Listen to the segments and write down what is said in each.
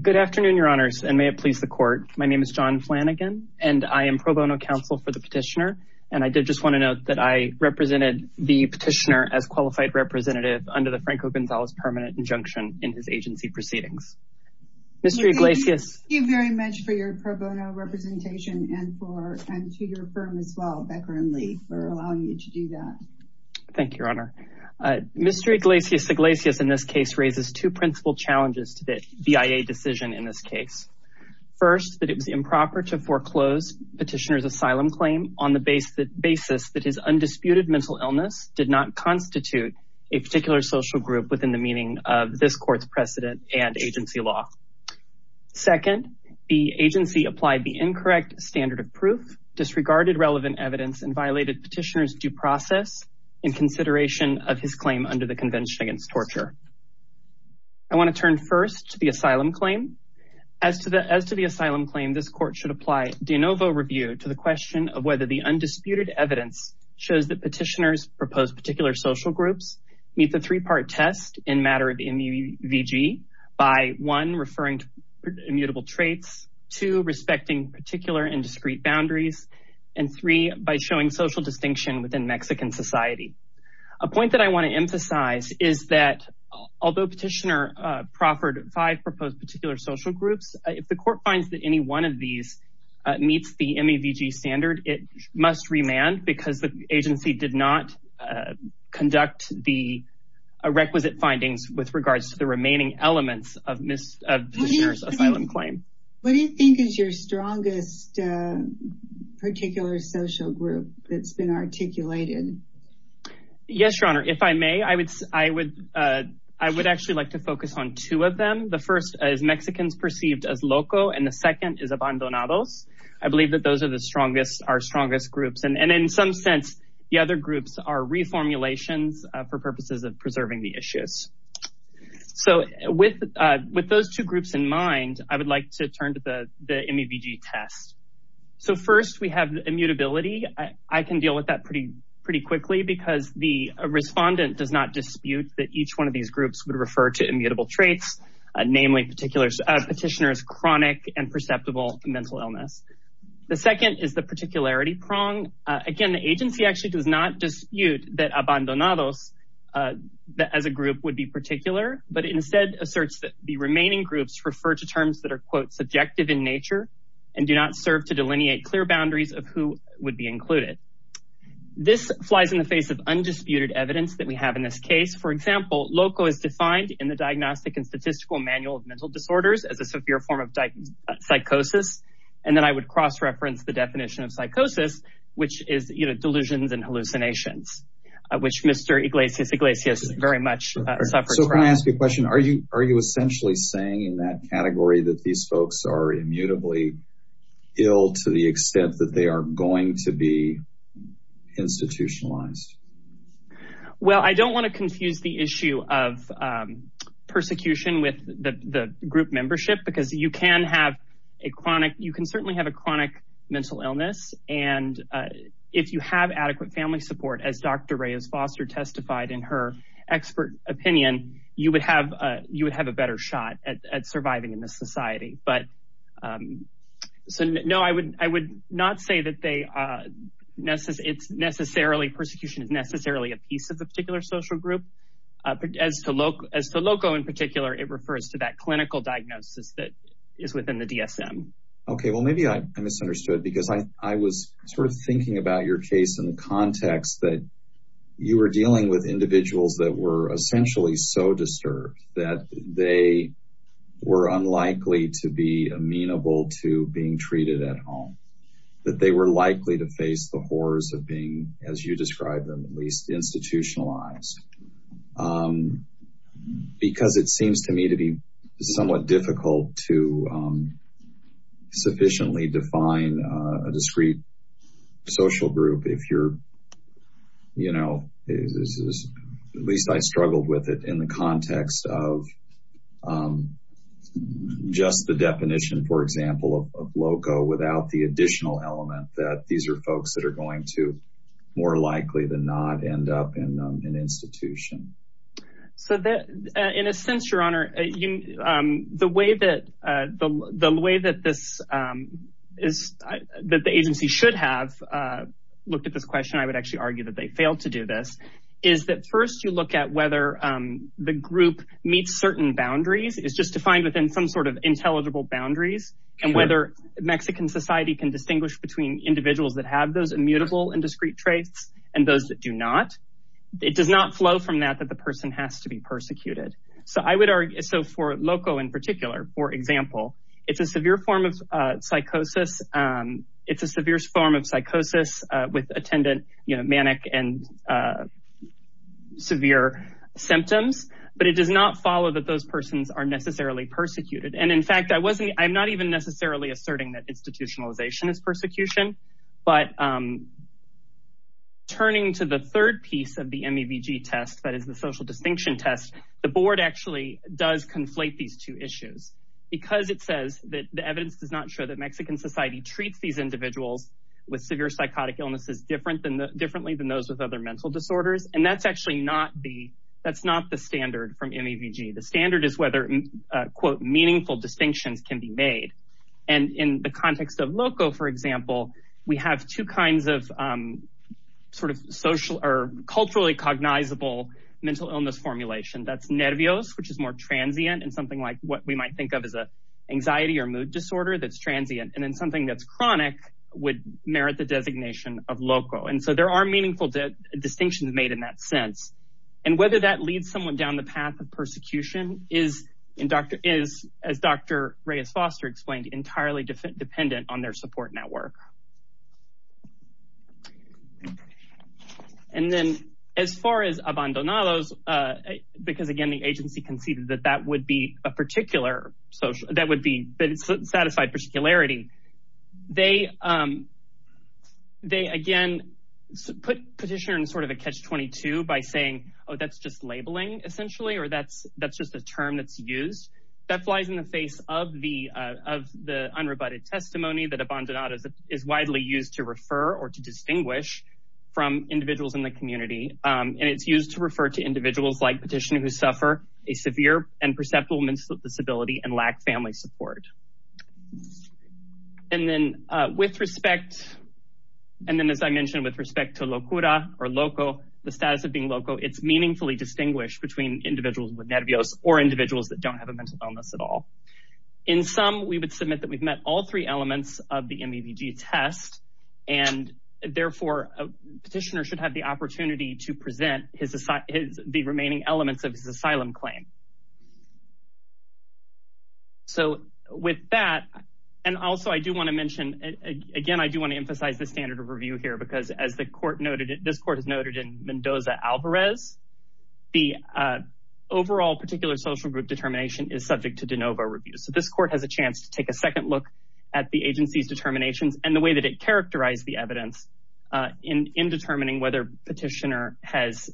Good afternoon, your honors, and may it please the court. My name is John Flanagan and I am pro bono counsel for the petitioner. And I did just want to note that I represented the petitioner as qualified representative under the Franco Gonzalez permanent injunction in his agency proceedings, Mr. Iglesias. Thank you very much for your pro bono representation and for, and to your firm as well, Becker and Lee for allowing you to do that. Thank you, your honor. Uh, Mr. Iglesias-Iglesias in this case raises two principal challenges to BIA decision in this case. First, that it was improper to foreclose petitioner's asylum claim on the base, the basis that his undisputed mental illness did not constitute a particular social group within the meaning of this court's precedent and agency law. Second, the agency applied the incorrect standard of proof disregarded relevant evidence and violated petitioner's due process in consideration of his claim under the convention against torture. I want to turn first to the asylum claim as to the, as to the asylum claim, this court should apply de novo review to the question of whether the undisputed evidence shows that petitioner's proposed particular social groups meet the three-part test in matter of the MUVG by one, referring to immutable traits, two, respecting particular and discreet boundaries, and three, by showing social distinction within Mexican society. A point that I want to emphasize is that although petitioner proffered five proposed particular social groups, if the court finds that any one of these meets the MUVG standard, it must remand because the agency did not conduct the requisite findings with regards to the remaining elements of petitioner's asylum claim. What do you think is your strongest particular social group that's been articulated? Yes, your honor. If I may, I would, I would I would actually like to focus on two of them. The first is Mexicans perceived as loco. And the second is abandonados. I believe that those are the strongest, our strongest groups. And, and in some sense, the other groups are reformulations for purposes of preserving the issues. So with with those two groups in mind, I would like to turn to the, the MUVG test. So first we have immutability. I can deal with that pretty, pretty quickly because the respondent does not dispute that each one of these groups would refer to immutable traits, namely particular petitioner's chronic and perceptible mental illness. The second is the particularity prong. Again, the agency actually does not dispute that abandonados as a group would be particular, but instead asserts that the remaining groups refer to terms that are quote subjective in nature and do not serve to delineate clear boundaries of who would be included. This flies in the face of undisputed evidence that we have in this case. For example, loco is defined in the diagnostic and statistical manual of mental disorders as a severe form of psychosis. And then I would cross-reference the definition of psychosis, which is, you know, delusions and hallucinations, which Mr. Iglesias Iglesias very much suffers from. So can I ask you a question? Are you, are you essentially saying in that category that these folks are going to be institutionalized? Well, I don't want to confuse the issue of persecution with the group membership because you can have a chronic, you can certainly have a chronic mental illness. And if you have adequate family support, as Dr. Reyes Foster testified in her expert opinion, you would have a, you would have a better shot at surviving in this society. But so no, I would, I would not say that they necessarily, it's necessarily persecution is necessarily a piece of the particular social group as to loco. As to loco in particular, it refers to that clinical diagnosis that is within the DSM. Okay. Well, maybe I misunderstood because I was sort of thinking about your case in the context that you were dealing with individuals that were essentially so disturbed that they were unlikely to be amenable to being treated at home. That they were likely to face the horrors of being, as you described them, at least institutionalized. Because it seems to me to be somewhat difficult to sufficiently define a discrete social group. If you're, you know, at least I struggled with it in the context of just the definition, for example, of loco without the additional element that these are folks that are going to more likely than not end up in an institution. So that in a sense, your honor, the way that the way that this is, that the agency should have looked at this question, I would actually argue that they failed to do this is that first you look at whether the group meets certain boundaries is just defined within some sort of intelligible boundaries and whether Mexican society can distinguish between individuals that have those immutable and discrete traits and those that do not. It does not flow from that, that the person has to be persecuted. So I would argue, so for loco in particular, for example, it's a severe form of psychosis, it's a severe form of psychosis with attendant, you know, manic and severe symptoms, but it does not follow that those persons are necessarily persecuted. And in fact, I wasn't, I'm not even necessarily asserting that institutionalization is persecution, but turning to the third piece of the MEVG test, that is the social distinction test, the board actually does conflate these two issues because it says that the evidence does not show that Mexican society treats these individuals with severe psychotic illnesses differently than those with other mental disorders. And that's actually not the, that's not the standard from MEVG. The standard is whether quote, meaningful distinctions can be made. And in the context of loco, for example, we have two kinds of sort of social or culturally cognizable mental illness formulation. That's nervios, which is more transient and something like what we might think of as anxiety or mood disorder that's transient. And then something that's chronic would merit the designation of loco. And so there are meaningful distinctions made in that sense. And whether that leads someone down the path of persecution is, as Dr. Reyes-Foster explained, entirely dependent on their support network. And then as far as abandonados, because again, the agency conceded that that would be a that would be a satisfied particularity, they again put petitioner in sort of a catch-22 by saying, oh, that's just labeling essentially, or that's just a term that's used. That flies in the face of the unrebutted testimony that abandonados is widely used to refer or to distinguish from individuals in the community. And it's used to refer to individuals like petitioner who suffer a severe and perceptible disability and lack family support. And then with respect and then, as I mentioned, with respect to locura or loco, the status of being loco, it's meaningfully distinguished between individuals with nervios or individuals that don't have a mental illness at all. In sum, we would submit that we've met all three elements of the MEVG test and therefore a petitioner should have the opportunity to present the remaining elements of his asylum claim. So with that, and also I do want to mention again, I do want to emphasize the standard of review here, because as the court noted, this court has noted in Mendoza-Alvarez, the overall particular social group determination is subject to de novo review. So this court has a chance to take a second look at the agency's determinations and the way that it characterized the evidence in determining whether petitioner has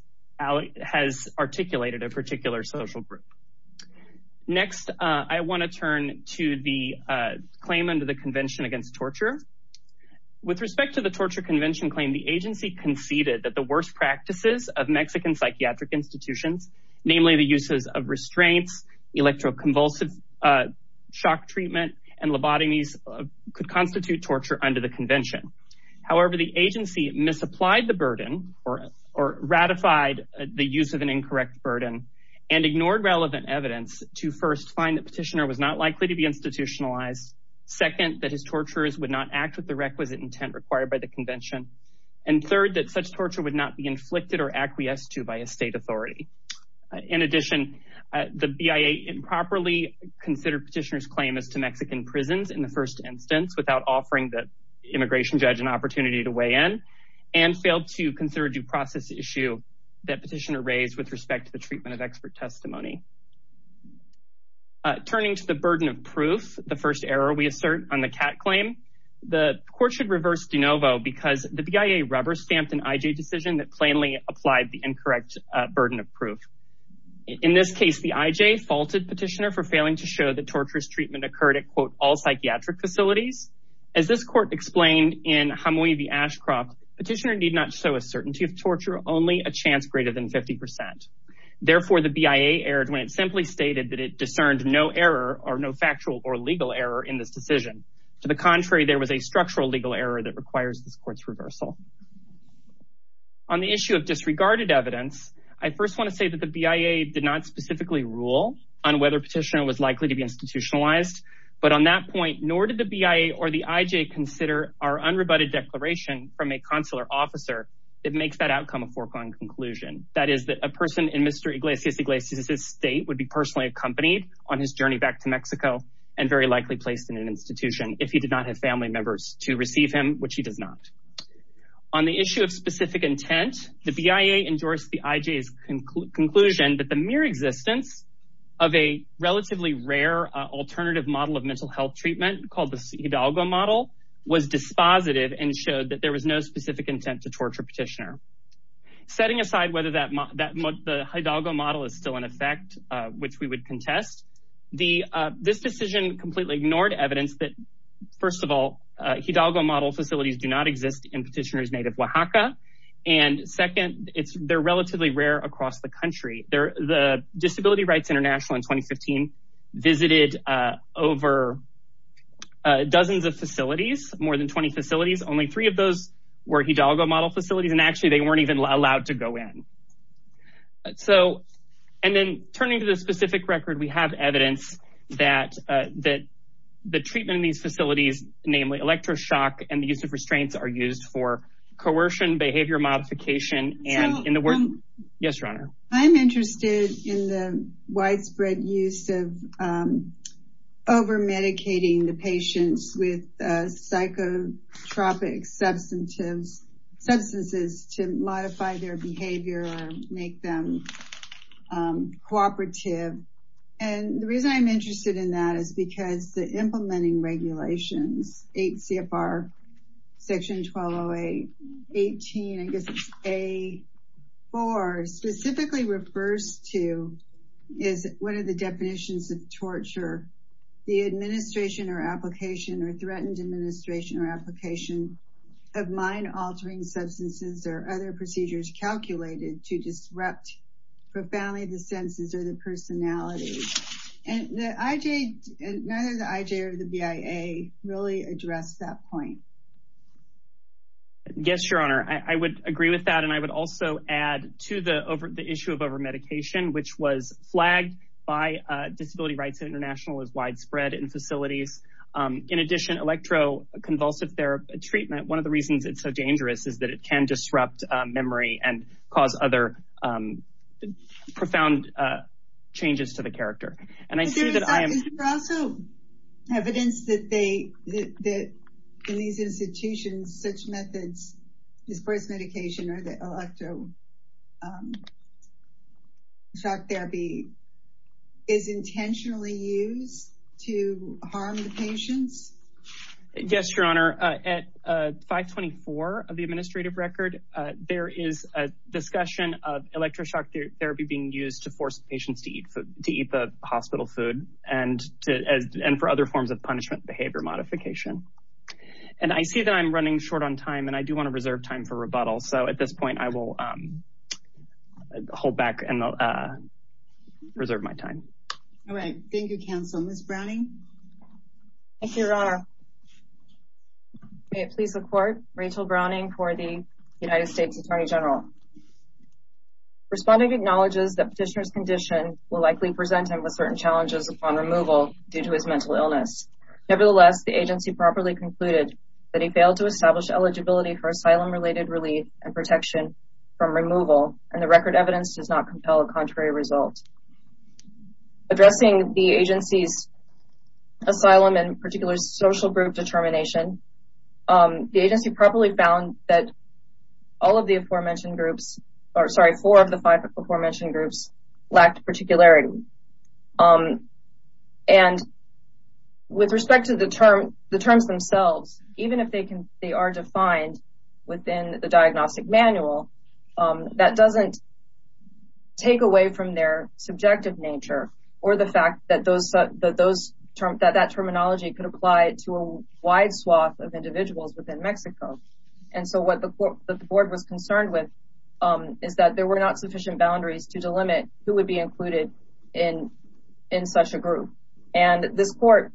articulated a particular social group. Next, I want to turn to the claim under the Convention Against Torture. With respect to the torture convention claim, the agency conceded that the worst practices of Mexican psychiatric institutions, namely the uses of restraints, electroconvulsive shock treatment and lobotomies could constitute torture under the convention. However, the agency misapplied the burden or ratified the use of an evidence to first find that petitioner was not likely to be institutionalized. Second, that his torturers would not act with the requisite intent required by the convention. And third, that such torture would not be inflicted or acquiesced to by a state authority. In addition, the BIA improperly considered petitioner's claim as to Mexican prisons in the first instance, without offering the immigration judge an opportunity to weigh in and failed to consider a due process issue that petitioner raised with respect to the treatment of expert testimony. Turning to the burden of proof, the first error we assert on the CAT claim, the court should reverse de novo because the BIA rubber stamped an IJ decision that plainly applied the incorrect burden of proof. In this case, the IJ faulted petitioner for failing to show that torturous treatment occurred at all psychiatric facilities. As this court explained in Jamuy the Ashcroft, petitioner did not show a certainty of torture, only a chance greater than 50%. Therefore, the BIA erred when it simply stated that it discerned no error or no factual or legal error in this decision. To the contrary, there was a structural legal error that requires this court's reversal. On the issue of disregarded evidence, I first want to say that the BIA did not specifically rule on whether petitioner was likely to be institutionalized. But on that point, nor did the BIA or the IJ consider our unrebutted declaration from a consular officer that makes that outcome a foregone conclusion. That is that a person in Mr. Iglesias Iglesias' state would be personally accompanied on his journey back to Mexico and very likely placed in an institution if he did not have family members to receive him, which he does not. On the issue of specific intent, the BIA endorsed the IJ's conclusion that the mere existence of a relatively rare alternative model of mental health treatment called the Hidalgo model was dispositive and showed that there was no specific intent to torture petitioner. Setting aside whether that the Hidalgo model is still in effect, which we would contest, this decision completely ignored evidence that, first of all, Hidalgo model facilities do not exist in petitioner's native Oaxaca. And second, they're relatively rare across the country. The Disability Rights International in 2015 visited over dozens of facilities, more than 20 facilities. Only three of those were Hidalgo model facilities. And actually, they weren't even allowed to go in. So and then turning to the specific record, we have evidence that that the treatment in these facilities, namely electroshock and the use of restraints, are used for coercion, behavior modification. And in the world. Yes, your honor. I'm interested in the widespread use of overmedicating the patients with psychotropic substances to modify their behavior or make them cooperative. And the reason I'm interested in that is because the implementing regulations, 8 CFR section 1208, 18, I guess it's A4, specifically refers to is what are the definitions of mind altering substances or other procedures calculated to disrupt profoundly the senses or the personality and the IJ, neither the IJ or the BIA really addressed that point. Yes, your honor, I would agree with that. And I would also add to the issue of overmedication, which was flagged by Disability Rights International is widespread in facilities. In addition, electro convulsive therapy treatment, one of the reasons it's so dangerous is that it can disrupt memory and cause other profound changes to the character. And I see that I am also evidence that they that in these institutions, such methods, disperse medication or the electro shock therapy is intentionally used to harm the patients. Yes, your honor. At 524 of the administrative record, there is a discussion of electro shock therapy being used to force patients to eat to eat the hospital food and to and for other forms of punishment behavior modification. And I see that I'm running short on time and I do want to reserve time for rebuttal. So at this point, I will hold back and reserve my time. All right. Thank you, counsel. Ms. Browning. Thank you, your honor. May it please the court, Rachel Browning for the United States Attorney General. Responding acknowledges that petitioner's condition will likely present him with certain challenges upon removal due to his mental illness. Nevertheless, the agency properly concluded that he failed to establish eligibility for asylum related relief and protection from removal. And the record evidence does not compel a contrary result. Addressing the agency's asylum and particular social group determination, the agency probably found that all of the aforementioned groups are sorry for the five aforementioned groups lacked particularity. And with respect to the term, the terms themselves, even if they can, they are defined within the diagnostic manual that doesn't take away from their subjective nature or the fact that those that those terms that that terminology could apply to a wide swath of individuals within Mexico. And so what the board was concerned with is that there were not sufficient boundaries to limit who would be included in in such a group. And this court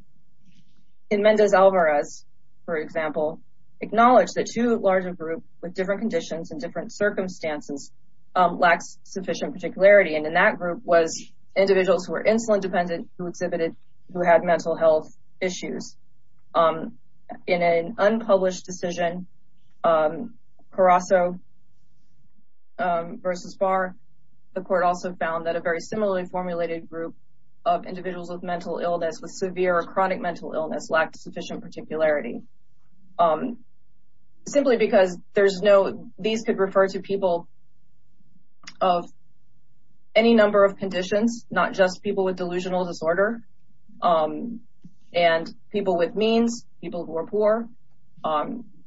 in Mendez Alvarez, for example, acknowledged that two larger groups with different conditions and different circumstances lacks sufficient particularity. And in that group was individuals who were insulin dependent, who exhibited, who had mental health issues. In an unpublished decision, Carasso versus Barr, the court also found that a very similarly formulated group of individuals with mental illness with severe or chronic mental illness lacked sufficient particularity simply because there's no these could refer to people of any number of conditions, not just people with delusional disorder and people with means people who are poor,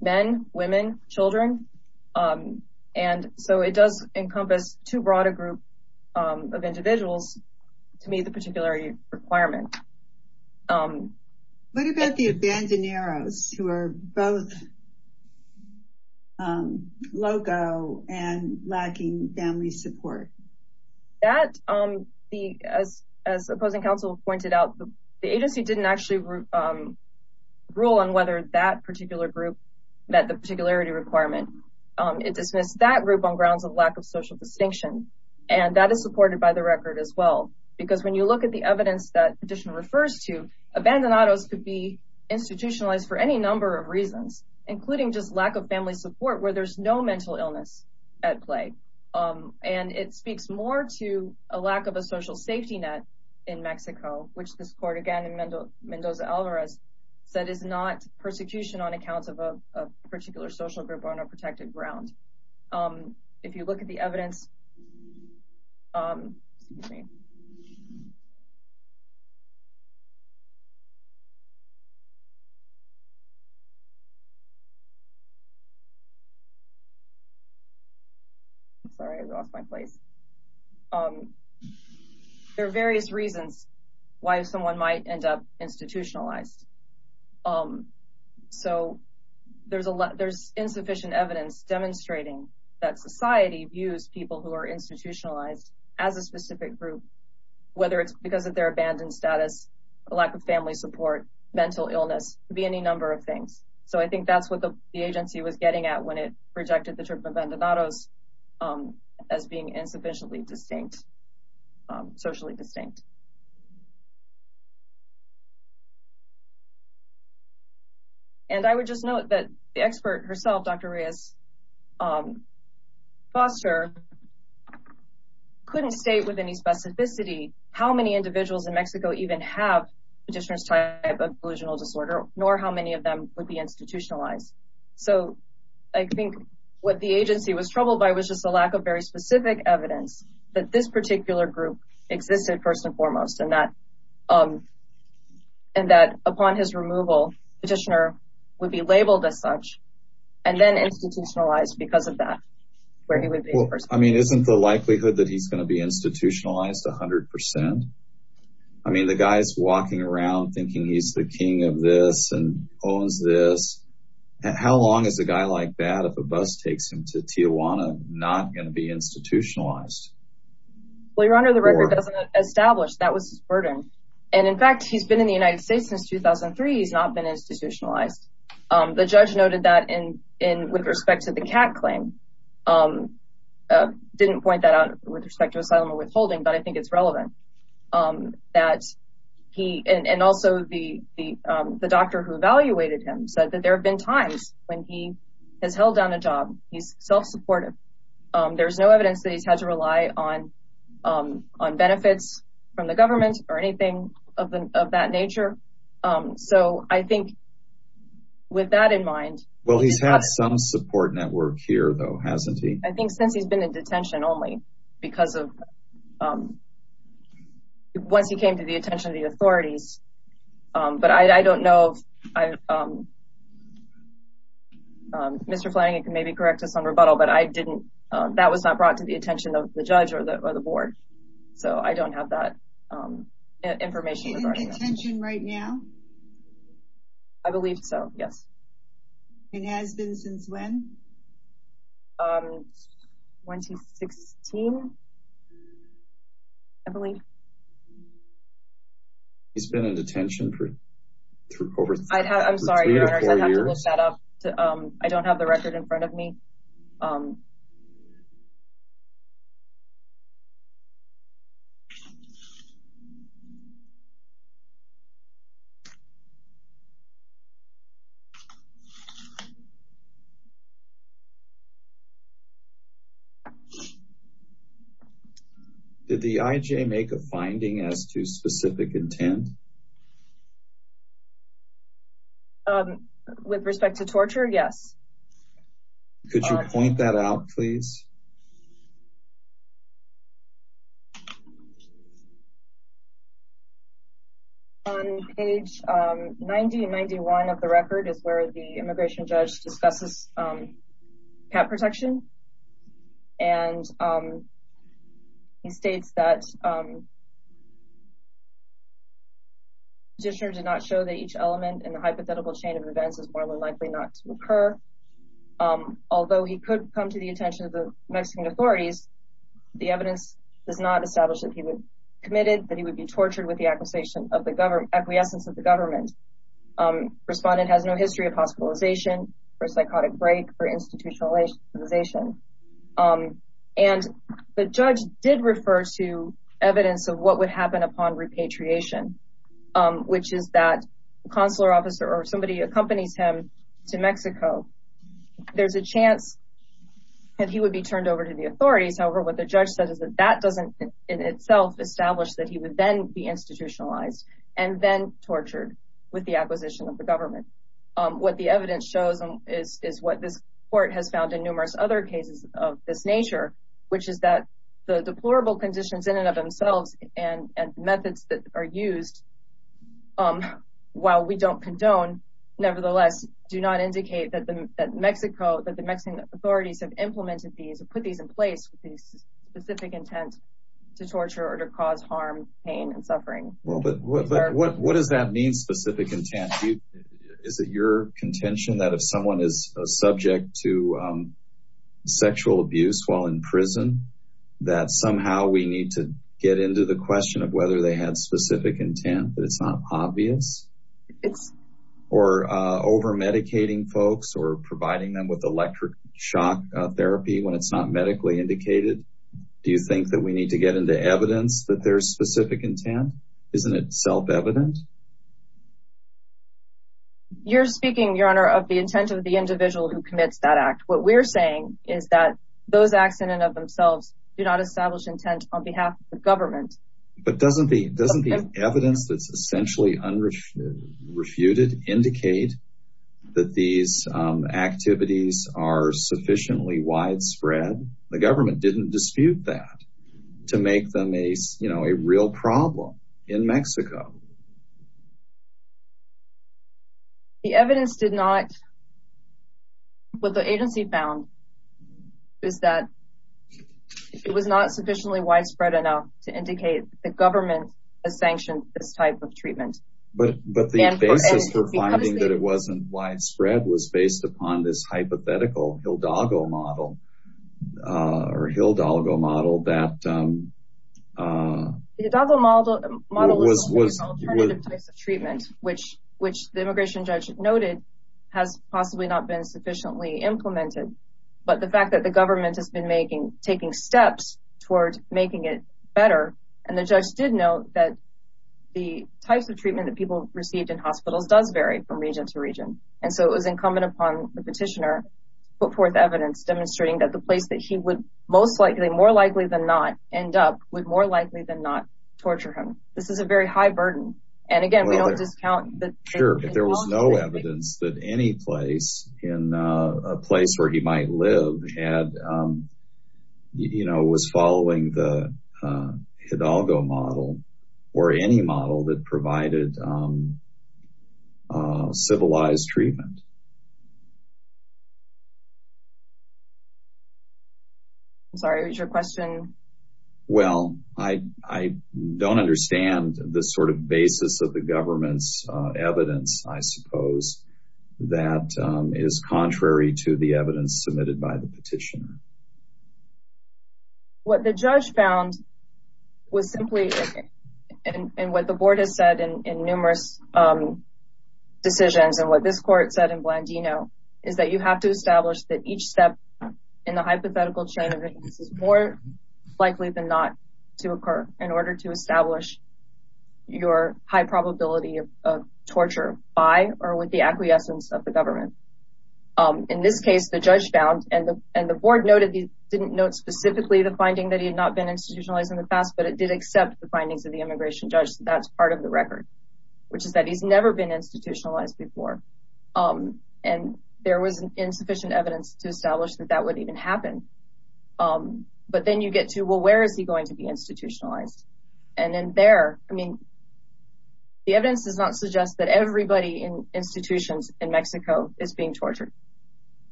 men, women, children. And so it does encompass too broad a group of individuals to meet the particular requirement. What about the Abandoneros who are both loco and lacking family support? That the as as opposing counsel pointed out, the agency didn't actually rule on whether that particular group met the particularity requirement. It dismissed that group on grounds of lack of social distinction. And that is supported by the record as well, because when you look at the evidence that petition refers to, Abandoneros could be institutionalized for any number of reasons, including just lack of family support where there's no mental illness at play. And it speaks more to a lack of a social safety net in Mexico, which this court again in Mendoza Alvarez said is not persecution on account of a particular social group on a protected ground. If you look at the evidence. Sorry, I lost my place. There are various reasons why someone might end up institutionalized. So there's a lot there's insufficient evidence demonstrating that society views people who are institutionalized as a specific group, whether it's because of their abandoned status, a lack of family support, mental illness, could be any number of things. So I think that's what the agency was getting at when it projected the trip of Abandoneros as being insufficiently distinct, socially distinct. And I would just note that the expert herself, Dr. Reyes Foster, couldn't state with any specificity how many individuals in Mexico even have petitioner's type of delusional disorder, nor how many of them would be institutionalized. So I think what the agency was troubled by was just the lack of very specific evidence that this particular group existed, first and foremost, and that upon his removal, petitioner would be labeled as such and then institutionalized because of that. I mean, isn't the likelihood that he's going to be institutionalized 100 percent? I mean, the guy's walking around thinking he's the king of this and owns this. How long is a guy like that, if a bus takes him to Tijuana, not going to be institutionalized? Well, Your Honor, the record doesn't establish that was his burden. And in fact, he's been in the United States since 2003. He's not been institutionalized. The judge noted that with respect to the cat claim, didn't point that out with respect to asylum or withholding, but I think it's relevant that he and also the doctor who have been times when he has held down a job. He's self-supportive. There's no evidence that he's had to rely on on benefits from the government or anything of that nature. So I think with that in mind. Well, he's had some support network here, though, hasn't he? I think since he's been in detention only because of once he came to the attention of the authorities. But I don't know if Mr. Flanagan can maybe correct us on rebuttal, but I didn't that was not brought to the attention of the judge or the board. So I don't have that information. Is he in detention right now? I believe so, yes. And has been since when? 2016, I believe. He's been in detention for over three or four years. I'm sorry, I don't have the record in front of me. Did the IJ make a finding as to specific intent? With respect to torture, yes. Could you point that out, please? On page 90 and 91 of the record is where the immigration judge discusses cap protection, and he states that. Just did not show that each element in the hypothetical chain of events is more likely not to occur, although he could come to the attention of the Mexican authorities. The evidence does not establish that he was committed, that he would be tortured with the acquisition of the government, acquiescence of the government. Respondent has no history of hospitalization or psychotic break or institutionalization. And the judge did refer to evidence of what would happen upon repatriation, which is that consular officer or somebody accompanies him to Mexico. There's a chance that he would be turned over to the authorities. However, what the judge says is that that doesn't in itself establish that he would then be institutionalized and then tortured with the acquisition of the government. What the evidence shows is what this court has found in numerous other cases of this nature, which is that the deplorable conditions in and of themselves and methods that are used, while we don't condone, nevertheless, do not indicate that Mexico, that the Mexican authorities have implemented these and put these in place with these specific intent to torture or to cause harm, pain and suffering. Well, but what does that mean? Specific intent is that your contention that if someone is subject to sexual abuse while in prison, that somehow we need to get into the question of whether they had specific intent, but it's not obvious or overmedicating folks or providing them with electric shock therapy when it's not medically indicated. Do you think that we need to get into evidence that there's specific intent? Isn't it self-evident? You're speaking, Your Honor, of the intent of the individual who commits that act. What we're saying is that those acts in and of themselves do not establish intent on behalf of the government. But doesn't the evidence that's essentially refuted indicate that these activities are sufficiently widespread? The government didn't dispute that to make them a real problem in Mexico. The evidence did not. And what the agency found is that it was not sufficiently widespread enough to indicate the government has sanctioned this type of treatment. But the basis for finding that it wasn't widespread was based upon this hypothetical Hildago model or Hildago model that was... which the immigration judge noted has possibly not been sufficiently implemented. But the fact that the government has been taking steps toward making it better and the judge did note that the types of treatment that people received in hospitals does vary from region to region. And so it was incumbent upon the petitioner to put forth evidence demonstrating that the place that he would most likely, more likely than not, end up would more likely than not torture him. This is a very high burden. And again, we don't discount that. Sure. If there was no evidence that any place in a place where he might live had, you know, was following the Hidalgo model or any model that provided civilized treatment. Sorry, what was your question? Well, I don't understand the sort of basis of the government's evidence, I suppose, that is contrary to the evidence submitted by the petitioner. What the judge found was simply and what the board has said in numerous decisions and what this court said in Blandino is that you have to establish that each step in the process is more likely than not to occur in order to establish your high probability of torture by or with the acquiescence of the government. In this case, the judge found and the board noted, didn't note specifically the finding that he had not been institutionalized in the past, but it did accept the findings of the immigration judge. That's part of the record, which is that he's never been institutionalized before. And there was insufficient evidence to establish that that would even happen. But then you get to, well, where is he going to be institutionalized? And then there, I mean, the evidence does not suggest that everybody in institutions in Mexico is being tortured.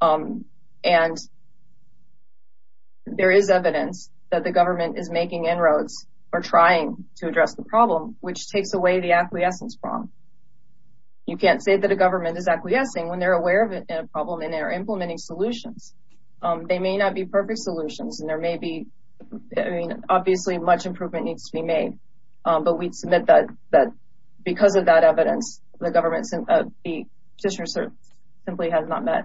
And there is evidence that the government is making inroads or trying to address the problem, which takes away the acquiescence from. You can't say that a government is acquiescing when they're aware of a problem and they're implementing solutions. They may not be perfect solutions and there may be, I mean, obviously much improvement needs to be made. But we'd submit that that because of that evidence, the government since the petitioner simply has not met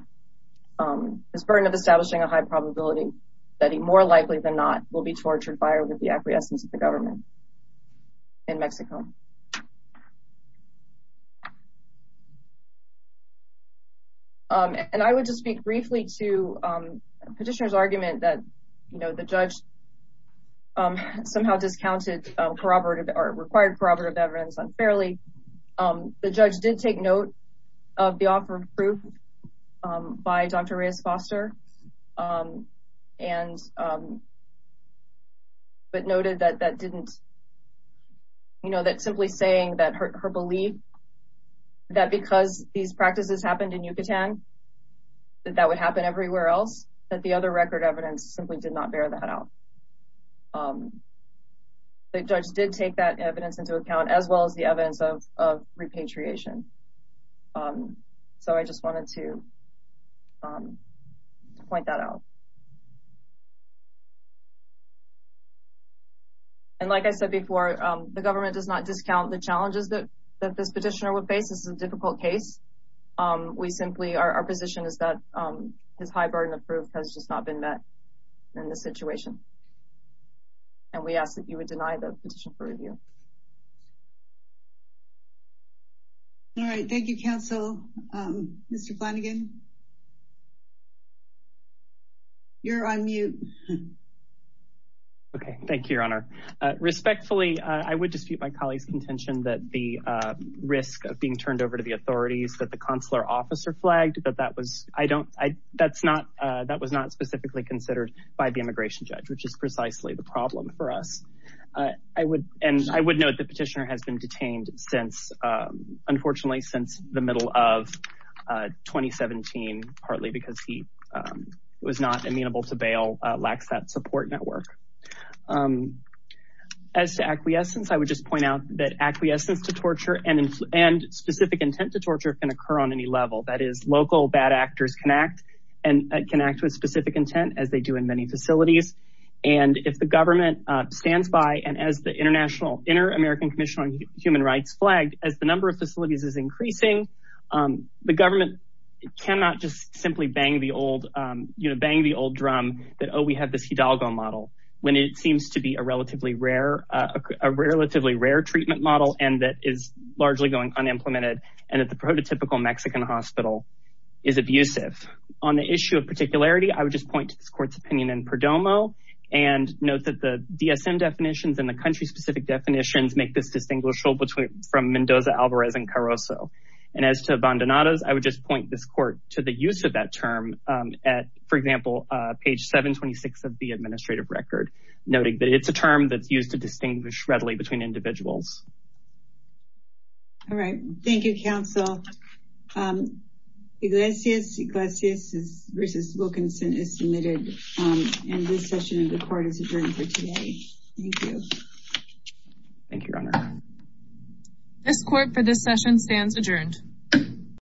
his burden of establishing a high probability that he more likely than not will be tortured by or with the acquiescence of the government. In Mexico. And I would just speak briefly to petitioner's argument that, you know, the judge somehow discounted corroborative or required corroborative evidence unfairly. The judge did take note of the offer of proof by Dr. Reyes Foster and but noted that that didn't, you know, that didn't meet the requirement. Simply saying that her belief that because these practices happened in Yucatan, that would happen everywhere else, that the other record evidence simply did not bear that out. The judge did take that evidence into account, as well as the evidence of repatriation. So I just wanted to point that out. And like I said before, the government does not discount the challenges that that this petitioner would face. This is a difficult case. We simply are our position is that his high burden of proof has just not been met in this situation. And we ask that you would deny the petition for review. All right. Thank you, counsel. Mr. Flanagan. You're on mute. OK, thank you, Your Honor. Respectfully, I would dispute my colleague's contention that the risk of being turned over to the authorities that the consular officer flagged that that was I don't I that's not that was not specifically considered by the immigration judge, which is precisely the problem for us. I would and I would note the petitioner has been detained since, unfortunately, since the middle of 2017, partly because he was not amenable to bail, lacks that support network. As to acquiescence, I would just point out that acquiescence to torture and and specific intent to torture can occur on any level. That is, local bad actors can act and can act with specific intent, as they do in many facilities. And if the government stands by and as the international Inter-American Commission on Human Rights flagged, as the number of facilities is increasing, the government cannot just simply bang the old, you know, bang the old drum that, oh, we have this Hidalgo model when it seems to be a relatively rare, a relatively rare treatment model and that is largely going unimplemented and that the prototypical Mexican hospital is abusive. On the issue of particularity, I would just point to this court's opinion in Perdomo and note that the DSM definitions and the country specific definitions make this distinguishable between from Mendoza, Alvarez and Carrozo. And as to abandonados, I would just point this court to the use of that term at, for example, page 726 of the administrative record, noting that it's a term that's used to distinguish readily between individuals. All right, thank you, counsel. Iglesias Iglesias versus Wilkinson is submitted in this session of the court. It's adjourned for today. Thank you, Your Honor. This court for this session stands adjourned.